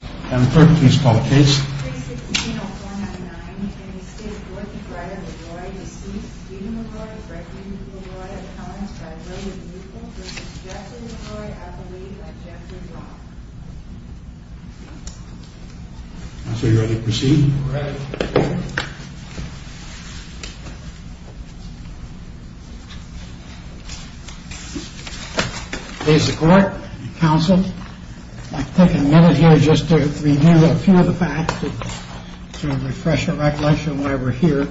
Madam Clerk, please call the case. Case 16-0499, Estate of Dorothy Breyer, LeRoy, deceased. Stephen LeRoy, breaking LeRoy at times, died early in youthful, versus Jeffrey LeRoy, at the late, at Jeffrey's off. Counsel, you're ready to proceed? We're ready. Please support, counsel. I'd like to take a minute here just to review a few of the facts, to refresh your recollection of why we're here.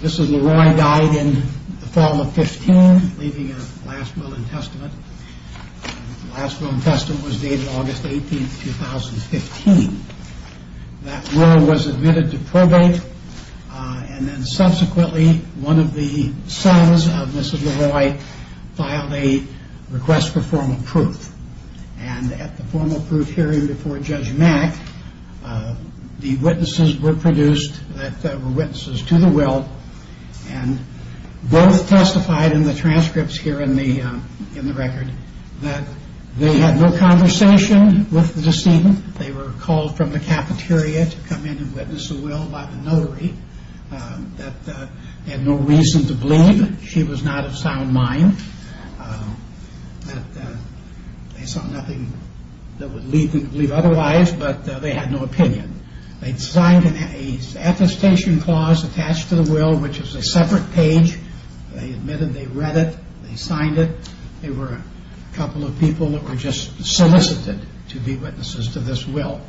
This is LeRoy died in the fall of 15, leaving a last will and testament. The last will and testament was dated August 18, 2015. That will was admitted to probate, and then subsequently one of the sons of Mrs. LeRoy filed a request for formal proof. And at the formal proof hearing before Judge Mack, the witnesses were produced that were witnesses to the will, and both testified in the transcripts here in the record that they had no conversation with the decedent, they were called from the cafeteria to come in and witness the will by the notary, that they had no reason to believe she was not of sound mind, that they saw nothing that would lead them to believe otherwise, but they had no opinion. They'd signed an attestation clause attached to the will, which is a separate page. They admitted they read it, they signed it. There were a couple of people that were just solicited to be witnesses to this will.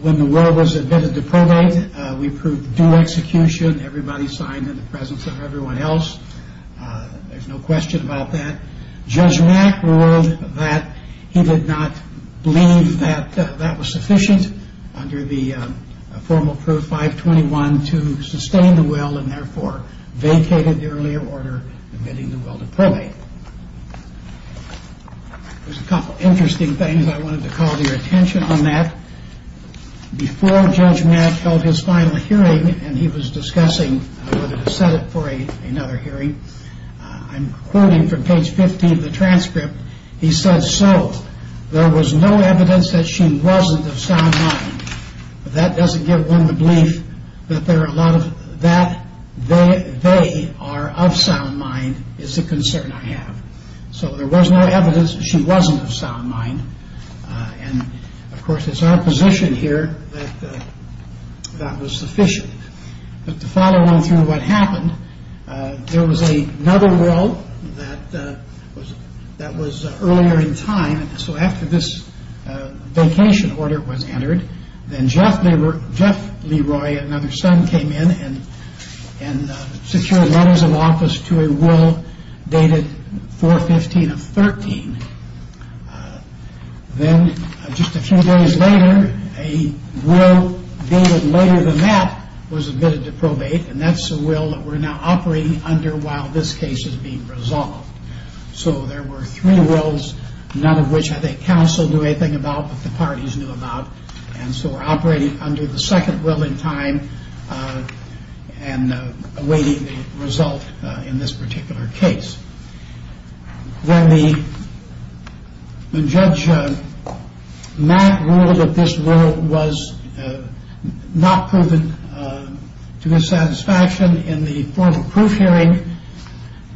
When the will was admitted to probate, we proved due execution, everybody signed in the presence of everyone else. There's no question about that. Judge Mack ruled that he did not believe that that was sufficient under the formal proof 521 to sustain the will, and therefore vacated the earlier order admitting the will to probate. There's a couple of interesting things I wanted to call to your attention on that. Before Judge Mack held his final hearing, and he was discussing whether to set it for another hearing, I'm quoting from page 15 of the transcript, he said, so, there was no evidence that she wasn't of sound mind. That doesn't give one the belief that there are a lot of, that they are of sound mind is the concern I have. So, there was no evidence she wasn't of sound mind, and, of course, it's our position here that that was sufficient. But to follow along through what happened, there was another will that was earlier in time, so after this vacation order was entered, then Jeff Leroy, another son, came in and secured letters of office to a will dated 415 of 13. Then, just a few days later, a will dated later than that was admitted to probate, and that's the will that we're now operating under while this case is being resolved. So, there were three wills, none of which had a counsel do anything about, but the parties knew about, and so we're operating under the second will in time and awaiting the result in this particular case. Then the Judge Mack ruled that this will was not proven to his satisfaction in the formal proof hearing,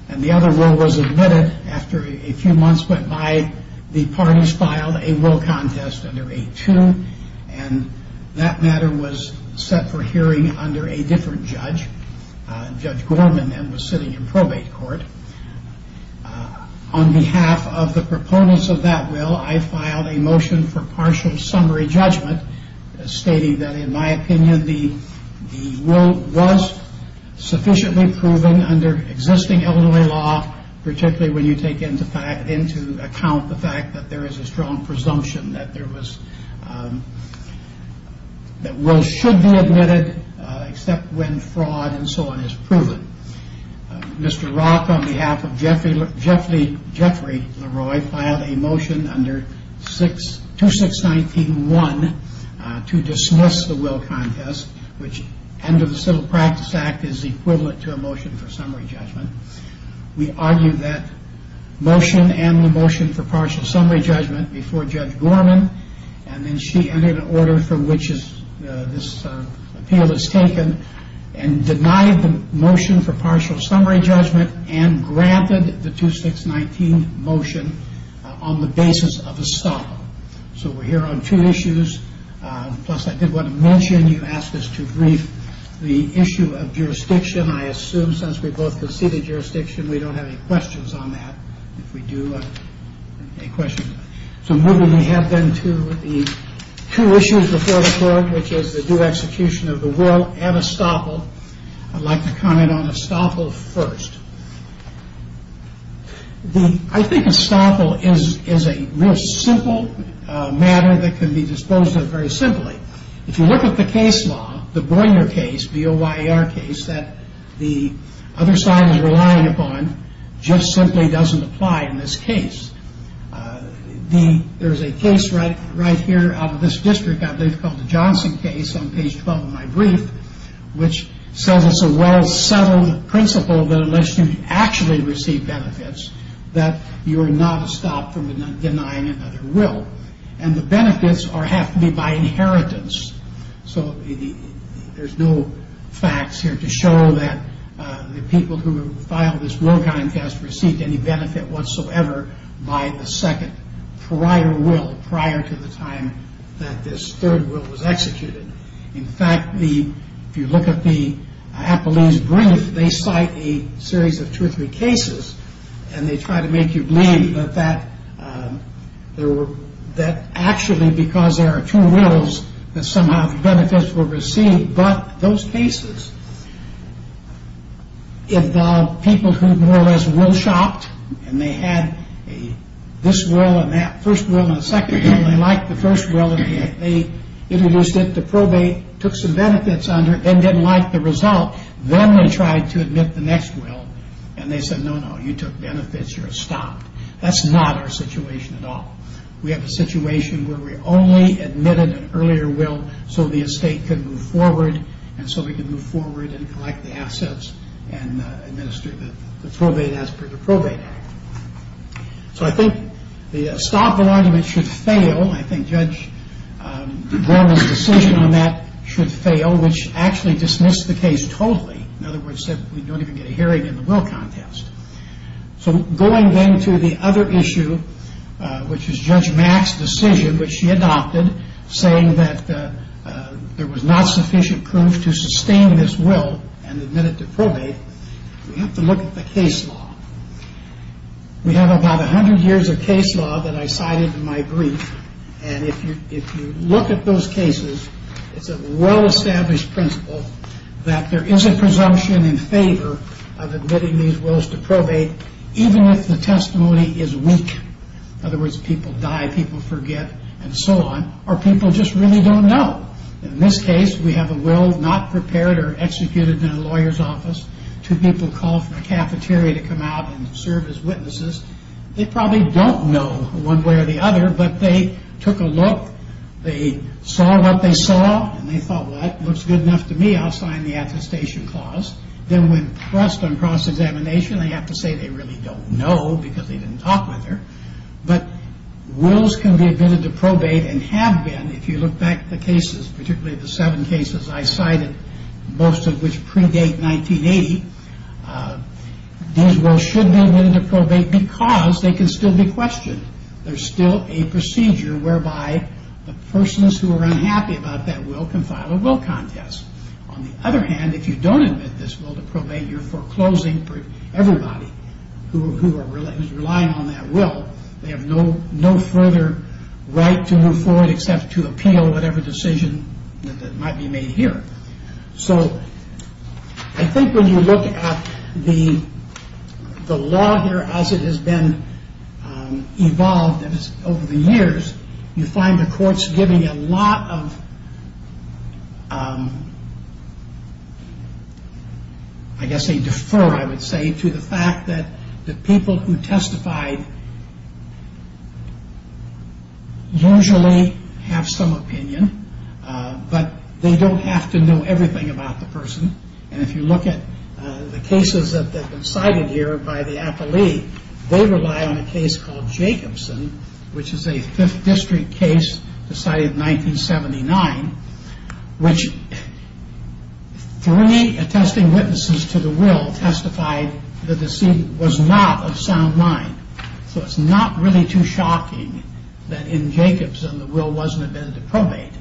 and the other will was admitted after a few months went by. The parties filed a will contest under 8-2, and that matter was set for hearing under a different judge, Judge Gorman, and was sitting in probate court. On behalf of the proponents of that will, I filed a motion for partial summary judgment stating that, in my opinion, the will was sufficiently proven under existing Illinois law, particularly when you take into account the fact that there is a strong presumption that wills should be admitted except when fraud and so on is proven. Mr. Rock, on behalf of Jeffrey Leroy, filed a motion under 2619-1 to dismiss the will contest, which under the Civil Practice Act is equivalent to a motion for summary judgment. We argue that motion and the motion for partial summary judgment before Judge Gorman, and then she entered an order for which this appeal is taken, and denied the motion for partial summary judgment and granted the 2619 motion on the basis of estoppel. So we're here on two issues, plus I did want to mention you asked us to brief the issue of jurisdiction. I assume since we both conceded jurisdiction, we don't have any questions on that. So moving ahead then to the two issues before the court, which is the due execution of the will and estoppel. I'd like to comment on estoppel first. I think estoppel is a real simple matter that can be disposed of very simply. If you look at the case law, the Boyer case, the O-Y-E-R case that the other side is relying upon, just simply doesn't apply in this case. There's a case right here out of this district out there called the Johnson case on page 12 of my brief, which says it's a well-settled principle that unless you actually receive benefits, that you're not estopped from denying another will. And the benefits have to be by inheritance. So there's no facts here to show that the people who filed this will contest received any benefit whatsoever by the second prior will prior to the time that this third will was executed. In fact, if you look at the Appellee's brief, they cite a series of two or three cases, and they try to make you believe that actually because there are two wills, that somehow the benefits were received. But those cases involve people who more or less will shopped, and they had this will and that first will and the second will, and they liked the first will, and they introduced it to probate, took some benefits under it, then didn't like the result. Then they tried to admit the next will, and they said, no, no, you took benefits, you're estopped. That's not our situation at all. We have a situation where we only admitted an earlier will so the estate could move forward, and so we could move forward and collect the assets and administer the probate as per the Probate Act. So I think the estoppable argument should fail. I think Judge Gorman's decision on that should fail, which actually dismissed the case totally. In other words, said we don't even get a hearing in the will contest. So going then to the other issue, which is Judge Mack's decision, which she adopted saying that there was not sufficient proof to sustain this will and admit it to probate, we have to look at the case law. We have about 100 years of case law that I cited in my brief, and if you look at those cases, it's a well-established principle that there is a presumption in favor of admitting these wills to probate even if the testimony is weak. In other words, people die, people forget, and so on, or people just really don't know. In this case, we have a will not prepared or executed in a lawyer's office. Two people call from a cafeteria to come out and serve as witnesses. They probably don't know one way or the other, but they took a look. They saw what they saw, and they thought, well, that looks good enough to me. I'll sign the attestation clause. Then when pressed on cross-examination, they have to say they really don't know because they didn't talk with her. But wills can be admitted to probate and have been if you look back at the cases, particularly the seven cases I cited, most of which predate 1980. These wills should be admitted to probate because they can still be questioned. There's still a procedure whereby the persons who are unhappy about that will can file a will contest. On the other hand, if you don't admit this will to probate, you're foreclosing for everybody who is relying on that will. They have no further right to move forward except to appeal whatever decision that might be made here. So I think when you look at the law here as it has been evolved over the years, you find the courts giving a lot of, I guess they defer, I would say, to the fact that the people who testified usually have some opinion, but they don't have to know everything about the person. And if you look at the cases that have been cited here by the appellee, they rely on a case called Jacobson, which is a 5th District case decided in 1979, which three attesting witnesses to the will testified the decedent was not of sound mind. So it's not really too shocking that in Jacobson the will wasn't admitted to probate.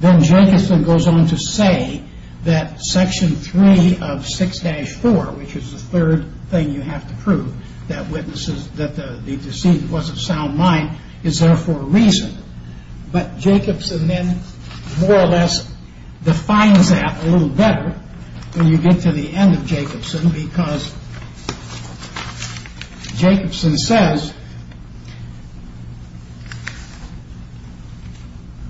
Then Jacobson goes on to say that Section 3 of 6-4, which is the third thing you have to prove that the decedent was of sound mind, is there for a reason. But Jacobson then more or less defines that a little better when you get to the end of Jacobson because Jacobson says,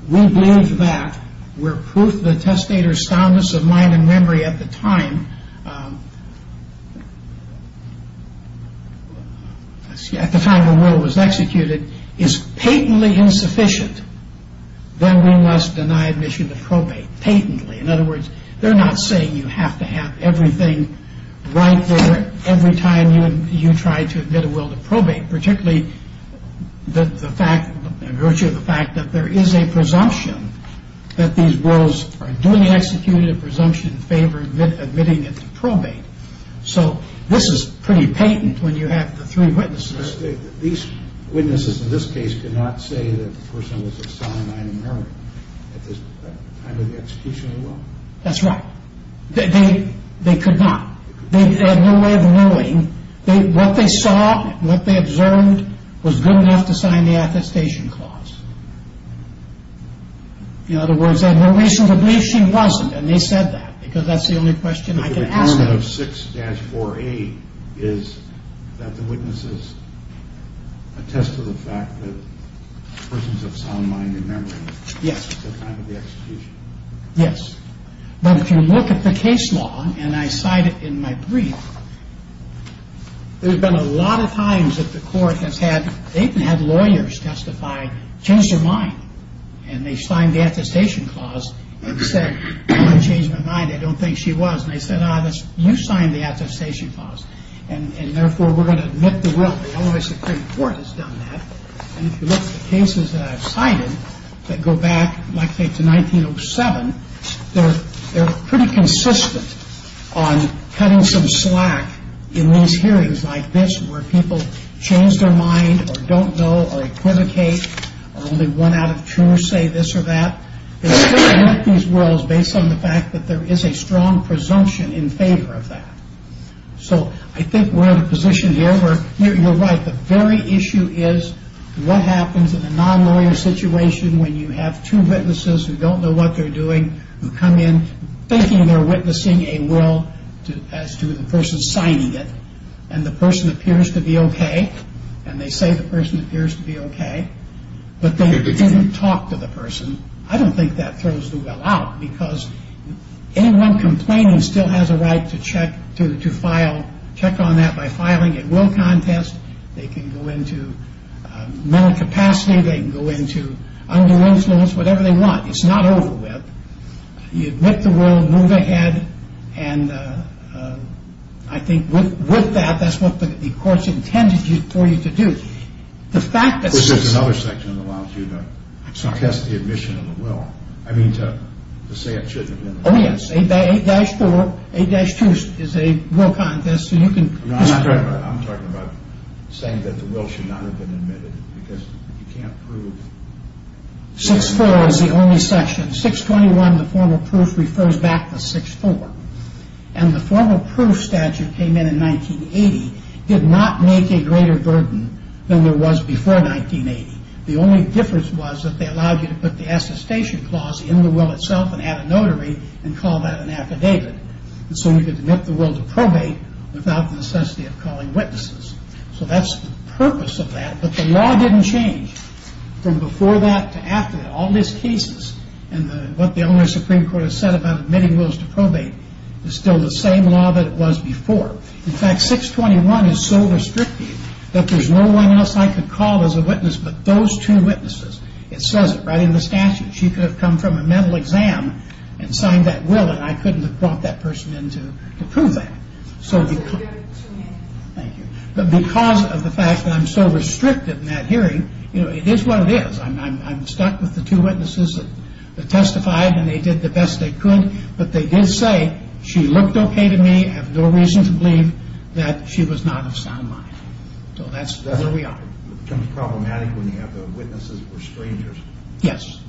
we believe that where proof the testator's soundness of mind and memory at the time, at the time the will was executed is patently insufficient, then we must deny admission to probate patently. In other words, they're not saying you have to have everything right there every time you try to admit a will to probate, particularly the virtue of the fact that there is a presumption that these wills are duly executed presumption in favor of admitting it to probate. So this is pretty patent when you have the three witnesses. These witnesses in this case could not say that the person was of sound mind and memory at the time of the execution of the will. That's right. They could not. They had no way of knowing. What they saw, what they observed was good enough to sign the attestation clause. In other words, they had no reason to believe she wasn't, and they said that because that's the only question I could ask them. The argument of 6-4A is that the witnesses attest to the fact that the person's of sound mind and memory at the time of the execution. Yes. But if you look at the case law, and I cite it in my brief, there have been a lot of times that the court has had lawyers testify, changed their mind, and they signed the attestation clause and said, I'm going to change my mind. I don't think she was. And they said, ah, you signed the attestation clause, and therefore we're going to admit the will. The Illinois Supreme Court has done that. And if you look at the cases that I've cited that go back, I'd say, to 1907, they're pretty consistent on cutting some slack in these hearings like this where people change their mind or don't know or equivocate or only one out of two say this or that. They still admit these wills based on the fact that there is a strong presumption in favor of that. So I think we're in a position here where you're right. The very issue is what happens in a non-lawyer situation when you have two witnesses who don't know what they're doing who come in thinking they're witnessing a will as to the person signing it, and the person appears to be okay, and they say the person appears to be okay, but they didn't talk to the person. I don't think that throws the will out because anyone complaining still has a right to check on that by filing a will contest. They can go into mental capacity. They can go into underage wills, whatever they want. It's not over with. You admit the will, move ahead, and I think with that, that's what the court's intended for you to do. The fact that... Well, there's another section that allows you to test the admission of the will. I mean to say it should have been... Oh, yes. 8-4, 8-2 is a will contest, and you can... I'm talking about saying that the will should not have been admitted because you can't prove... 6-4 is the only section. 6-21, the formal proof, refers back to 6-4, and the formal proof statute came in in 1980 did not make a greater burden than there was before 1980. The only difference was that they allowed you to put the assustation clause in the will itself and add a notary and call that an affidavit, and so you could admit the will to probate without the necessity of calling witnesses. So that's the purpose of that, but the law didn't change from before that to after that. All these cases, and what the only Supreme Court has said about admitting wills to probate is still the same law that it was before. In fact, 6-21 is so restrictive that there's no one else I could call as a witness but those two witnesses. It says it right in the statute. She could have come from a mental exam and signed that will, but I couldn't have brought that person in to prove that. But because of the fact that I'm so restrictive in that hearing, it is what it is. I'm stuck with the two witnesses that testified and they did the best they could, but they did say she looked okay to me, I have no reason to believe that she was not of sound mind. So that's where we are. It becomes problematic when you have witnesses who are strangers. Yes.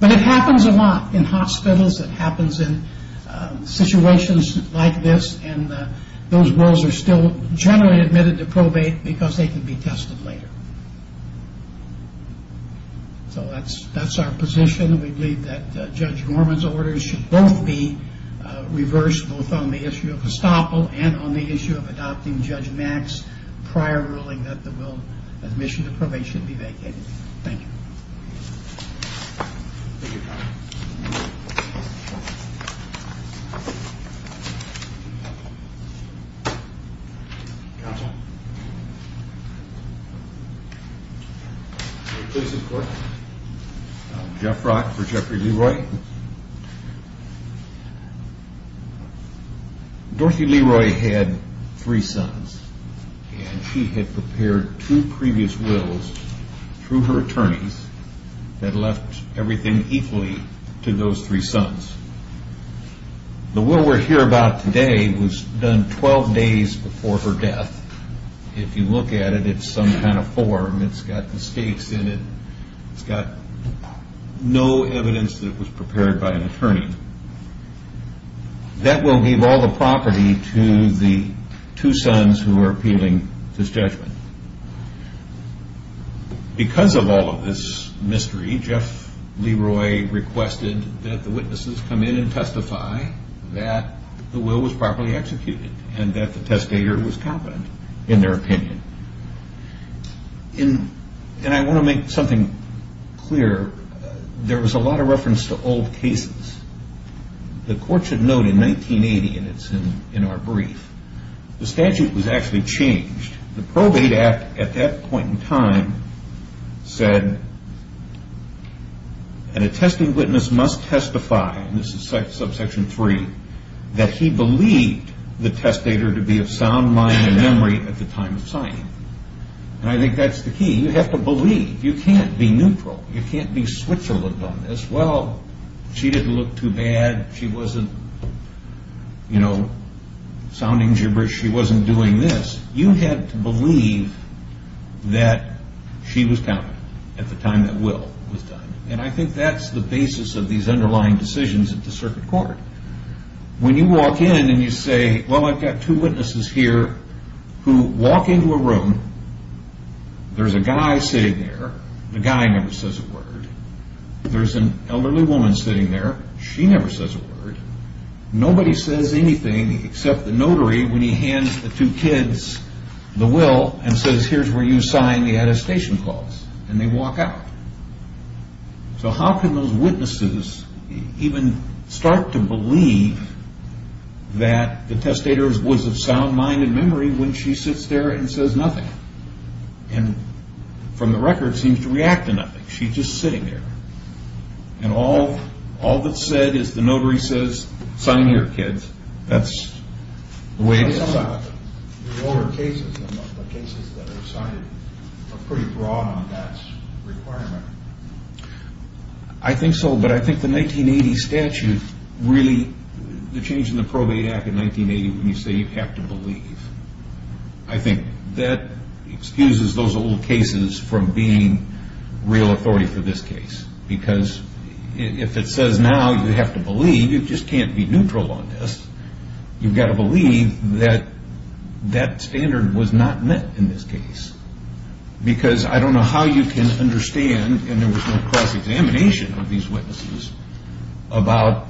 But it happens a lot in hospitals. It happens in situations like this, and those wills are still generally admitted to probate because they can be tested later. So that's our position. We believe that Judge Norman's orders should both be reversed, both on the issue of estoppel and on the issue of adopting Judge Mack's prior ruling that the admission to probate should be vacated. Thank you. Thank you, counsel. Counsel? Replace of court. Jeff Rock for Jeffrey Leroy. Dorothy Leroy had three sons and she had prepared two previous wills through her attorneys that left everything equally to those three sons. The will we're here about today was done 12 days before her death. If you look at it, it's some kind of form. It's got mistakes in it. It's got no evidence that it was prepared by an attorney. That will give all the property to the two sons who are appealing this judgment. Because of all of this mystery, Jeff Leroy requested that the witnesses come in and testify that the will was properly executed and that the testator was competent in their opinion. And I want to make something clear. There was a lot of reference to old cases. The court should note in 1980, and it's in our brief, the statute was actually changed. The Probate Act at that point in time said an attested witness must testify, and this is subsection 3, that he believed the testator to be of sound mind and memory at the time of signing. And I think that's the key. You have to believe. You can't be neutral. You can't be Switzerland on this. Well, she didn't look too bad. She wasn't, you know, sounding gibberish. She wasn't doing this. You have to believe that she was competent at the time that will was done. And I think that's the basis of these underlying decisions at the circuit court. When you walk in and you say, well, I've got two witnesses here who walk into a room. There's a guy sitting there. The guy never says a word. There's an elderly woman sitting there. She never says a word. Nobody says anything except the notary, when he hands the two kids the will and says, here's where you sign the attestation clause. And they walk out. So how can those witnesses even start to believe that the testator was of sound mind and memory when she sits there and says nothing? And from the record seems to react to nothing. She's just sitting there. And all that's said is the notary says, sign here, kids. That's the way to sign. Some of the older cases, the cases that are decided are pretty broad on that requirement. I think so, but I think the 1980 statute really, the change in the Probate Act in 1980 when you say you have to believe, I think that excuses those old cases from being real authority for this case. Because if it says now you have to believe, you just can't be neutral on this. You've got to believe that that standard was not met in this case. Because I don't know how you can understand, and there was no cross-examination of these witnesses, about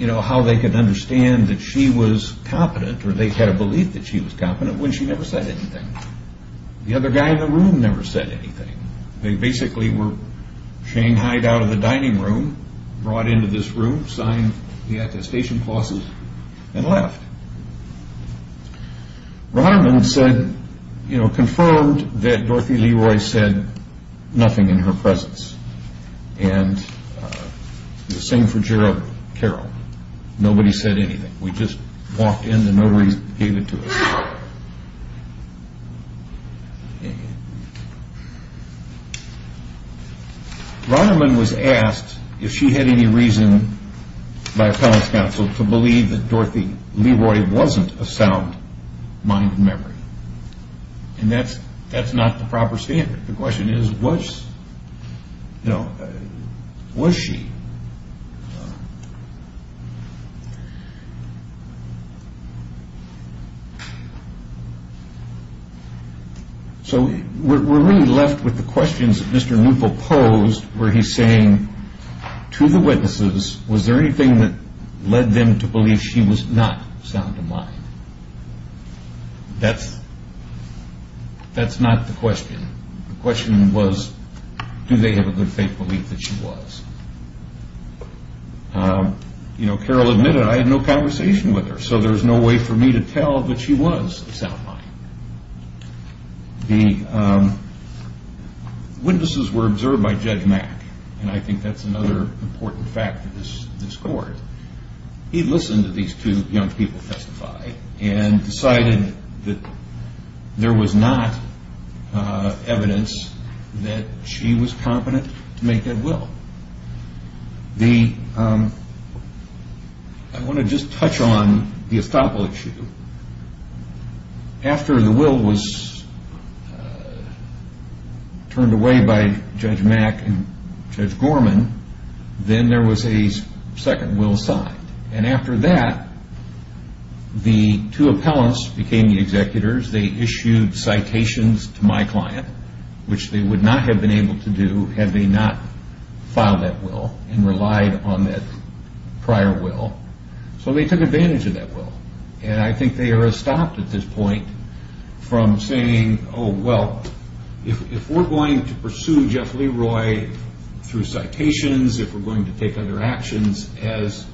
how they could understand that she was competent or they had a belief that she was competent when she never said anything. The other guy in the room never said anything. They basically were shanghaied out of the dining room, brought into this room, signed the attestation clauses, and left. Roderman confirmed that Dorothy Leroy said nothing in her presence. And the same for Gerald Carroll. Nobody said anything. We just walked in and nobody gave it to us. Roderman was asked if she had any reason by appellate counsel to believe that Dorothy Leroy wasn't a sound mind and memory. And that's not the proper standard. The question is, was she? So we're really left with the questions that Mr. Neufel posed, where he's saying, to the witnesses, was there anything that led them to believe she was not sound of mind? That's not the question. The question was, do they have a good faith belief that she was? You know, Carroll admitted, I had no conversation with her, so there's no way for me to tell that she was a sound mind. The witnesses were observed by Judge Mack, and I think that's another important fact of this court. He listened to these two young people testify and decided that there was not evidence that she was competent to make that will. I want to just touch on the estoppel issue. After the will was turned away by Judge Mack and Judge Gorman, then there was a second will signed. And after that, the two appellants became the executors. They issued citations to my client, which they would not have been able to do had they not filed that will and relied on that prior will. So they took advantage of that will. And I think they are estopped at this point from saying, oh, well, if we're going to pursue Jeff Leroy through citations, if we're going to take other actions as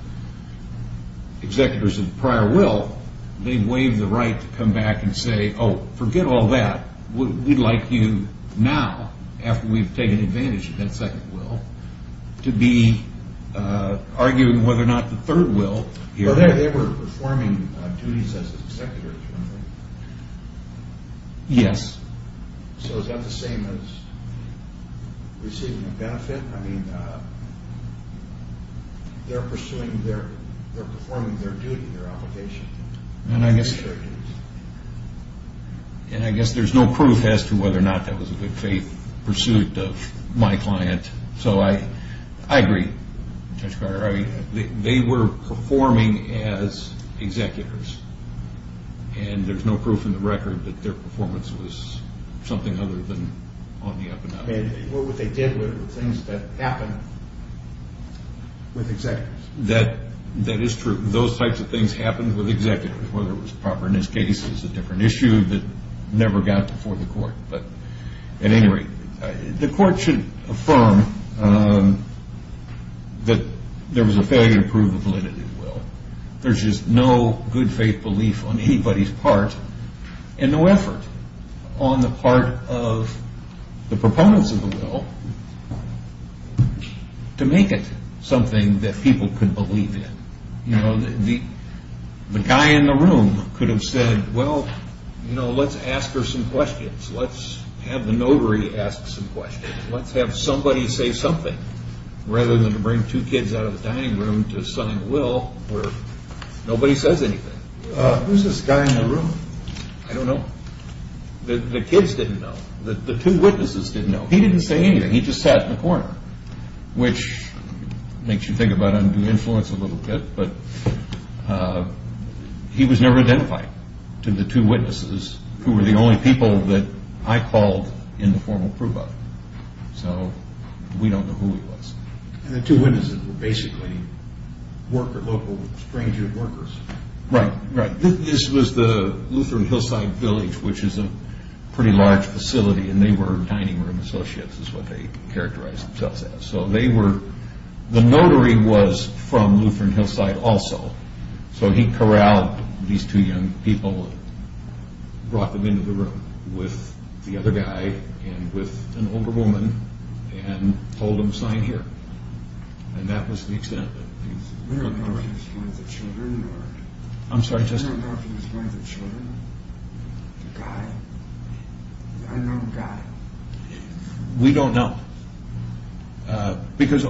executors of the prior will, they waive the right to come back and say, oh, forget all that. We'd like you now, after we've taken advantage of that second will, to be arguing whether or not the third will. They were performing duties as executors, weren't they? Yes. So is that the same as receiving a benefit? I mean, they're performing their duty, their obligation. And I guess there's no proof as to whether or not that was a good faith pursuit of my client. So I agree, Judge Carter. They were performing as executors, and there's no proof in the record that their performance was something other than on the up and up. What they did were things that happened with executors. That is true. Those types of things happened with executors, whether it was properness cases, a different issue that never got before the court. At any rate, the court should affirm that there was a failure to prove the validity of the will. There's just no good faith belief on anybody's part, and no effort on the part of the proponents of the will to make it something that people could believe in. The guy in the room could have said, well, let's ask her some questions. Let's have the notary ask some questions. Let's have somebody say something, rather than to bring two kids out of the dining room to sign a will where nobody says anything. Who's this guy in the room? I don't know. The kids didn't know. The two witnesses didn't know. He didn't say anything. He just sat in the corner, which makes you think about undue influence a little bit. But he was never identified to the two witnesses, who were the only people that I called in the formal proof of. So we don't know who he was. And the two witnesses were basically local stranger workers. Right, right. This was the Lutheran Hillside Village, which is a pretty large facility, and they were dining room associates, is what they characterized themselves as. The notary was from Lutheran Hillside also, so he corralled these two young people, brought them into the room with the other guy, and with an older woman, and told them to sign here. And that was the extent of it. We don't know if he was one of the children. I'm sorry, just... We don't know if he was one of the children. A guy. An unknown guy. We don't know. Because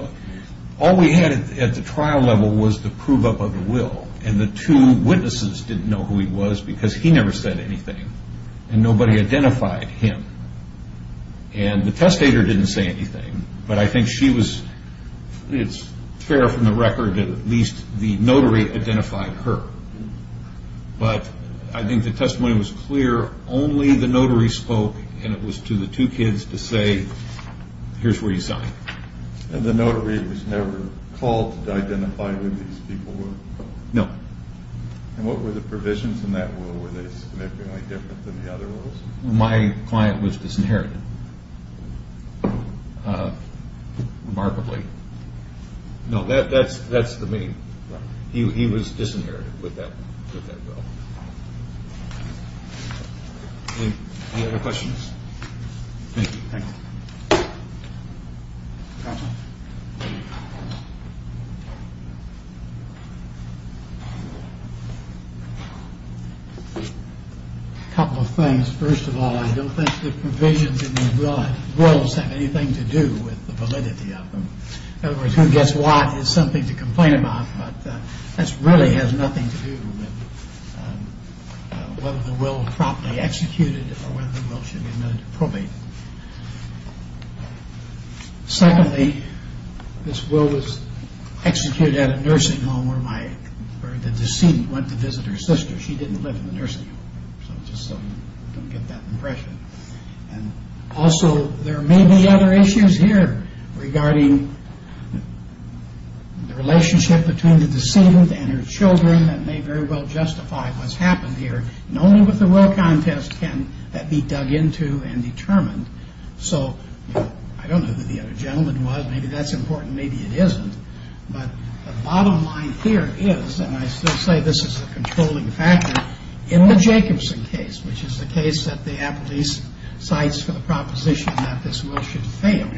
all we had at the trial level was the prove-up of the will, and the two witnesses didn't know who he was because he never said anything, and nobody identified him. And the testator didn't say anything, but I think she was... It's fair from the record that at least the notary identified her. But I think the testimony was clear. Only the notary spoke, and it was to the two kids to say, here's where you sign. And the notary was never called to identify who these people were? No. And what were the provisions in that will? Were they significantly different than the other wills? My client was disinherited. Remarkably. No, that's the main... He was disinherited with that will. Any other questions? Thank you. A couple of things. First of all, I don't think the provisions in the wills have anything to do with the validity of them. In other words, who gets what is something to complain about, but that really has nothing to do with whether the will was properly executed or whether the will should be admitted to probate. Secondly, this will was executed at a nursing home where the decedent went to visit her sister. She didn't live in the nursing home, so I don't get that impression. Also, there may be other issues here regarding the relationship between the decedent and her children that may very well justify what's happened here. And only with the will contest can that be dug into and determined. So, I don't know who the other gentleman was. Maybe that's important, maybe it isn't. But the bottom line here is, and I still say this is a controlling factor, in the Jacobson case, which is the case that the appellee cites for the proposition that this will should fail.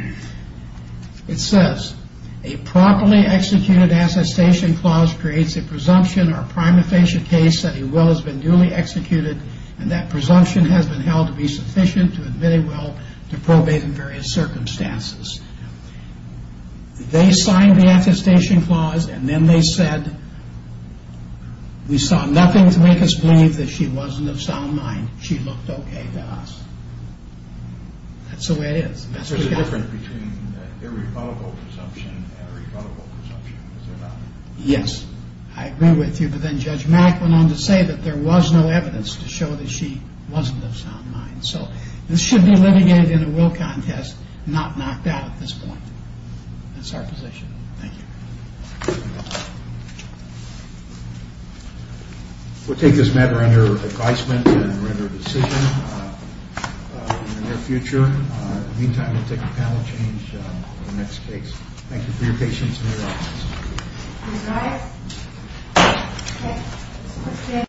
It says, a properly executed attestation clause creates a presumption or prima facie case that a will has been duly executed and that presumption has been held to be sufficient to admit a will to probate in various circumstances. They signed the attestation clause and then they said, we saw nothing to make us believe that she wasn't of sound mind. She looked okay to us. That's the way it is. There's a difference between irrefutable presumption and irrefutable presumption. Yes, I agree with you. But then Judge Mack went on to say that there was no evidence to show that she wasn't of sound mind. So, this should be litigated in a will contest, not knocked out at this point. That's our position. Thank you. We'll take this matter under advisement and render a decision in the near future. In the meantime, we'll take a panel change for the next case. Thank you for your patience.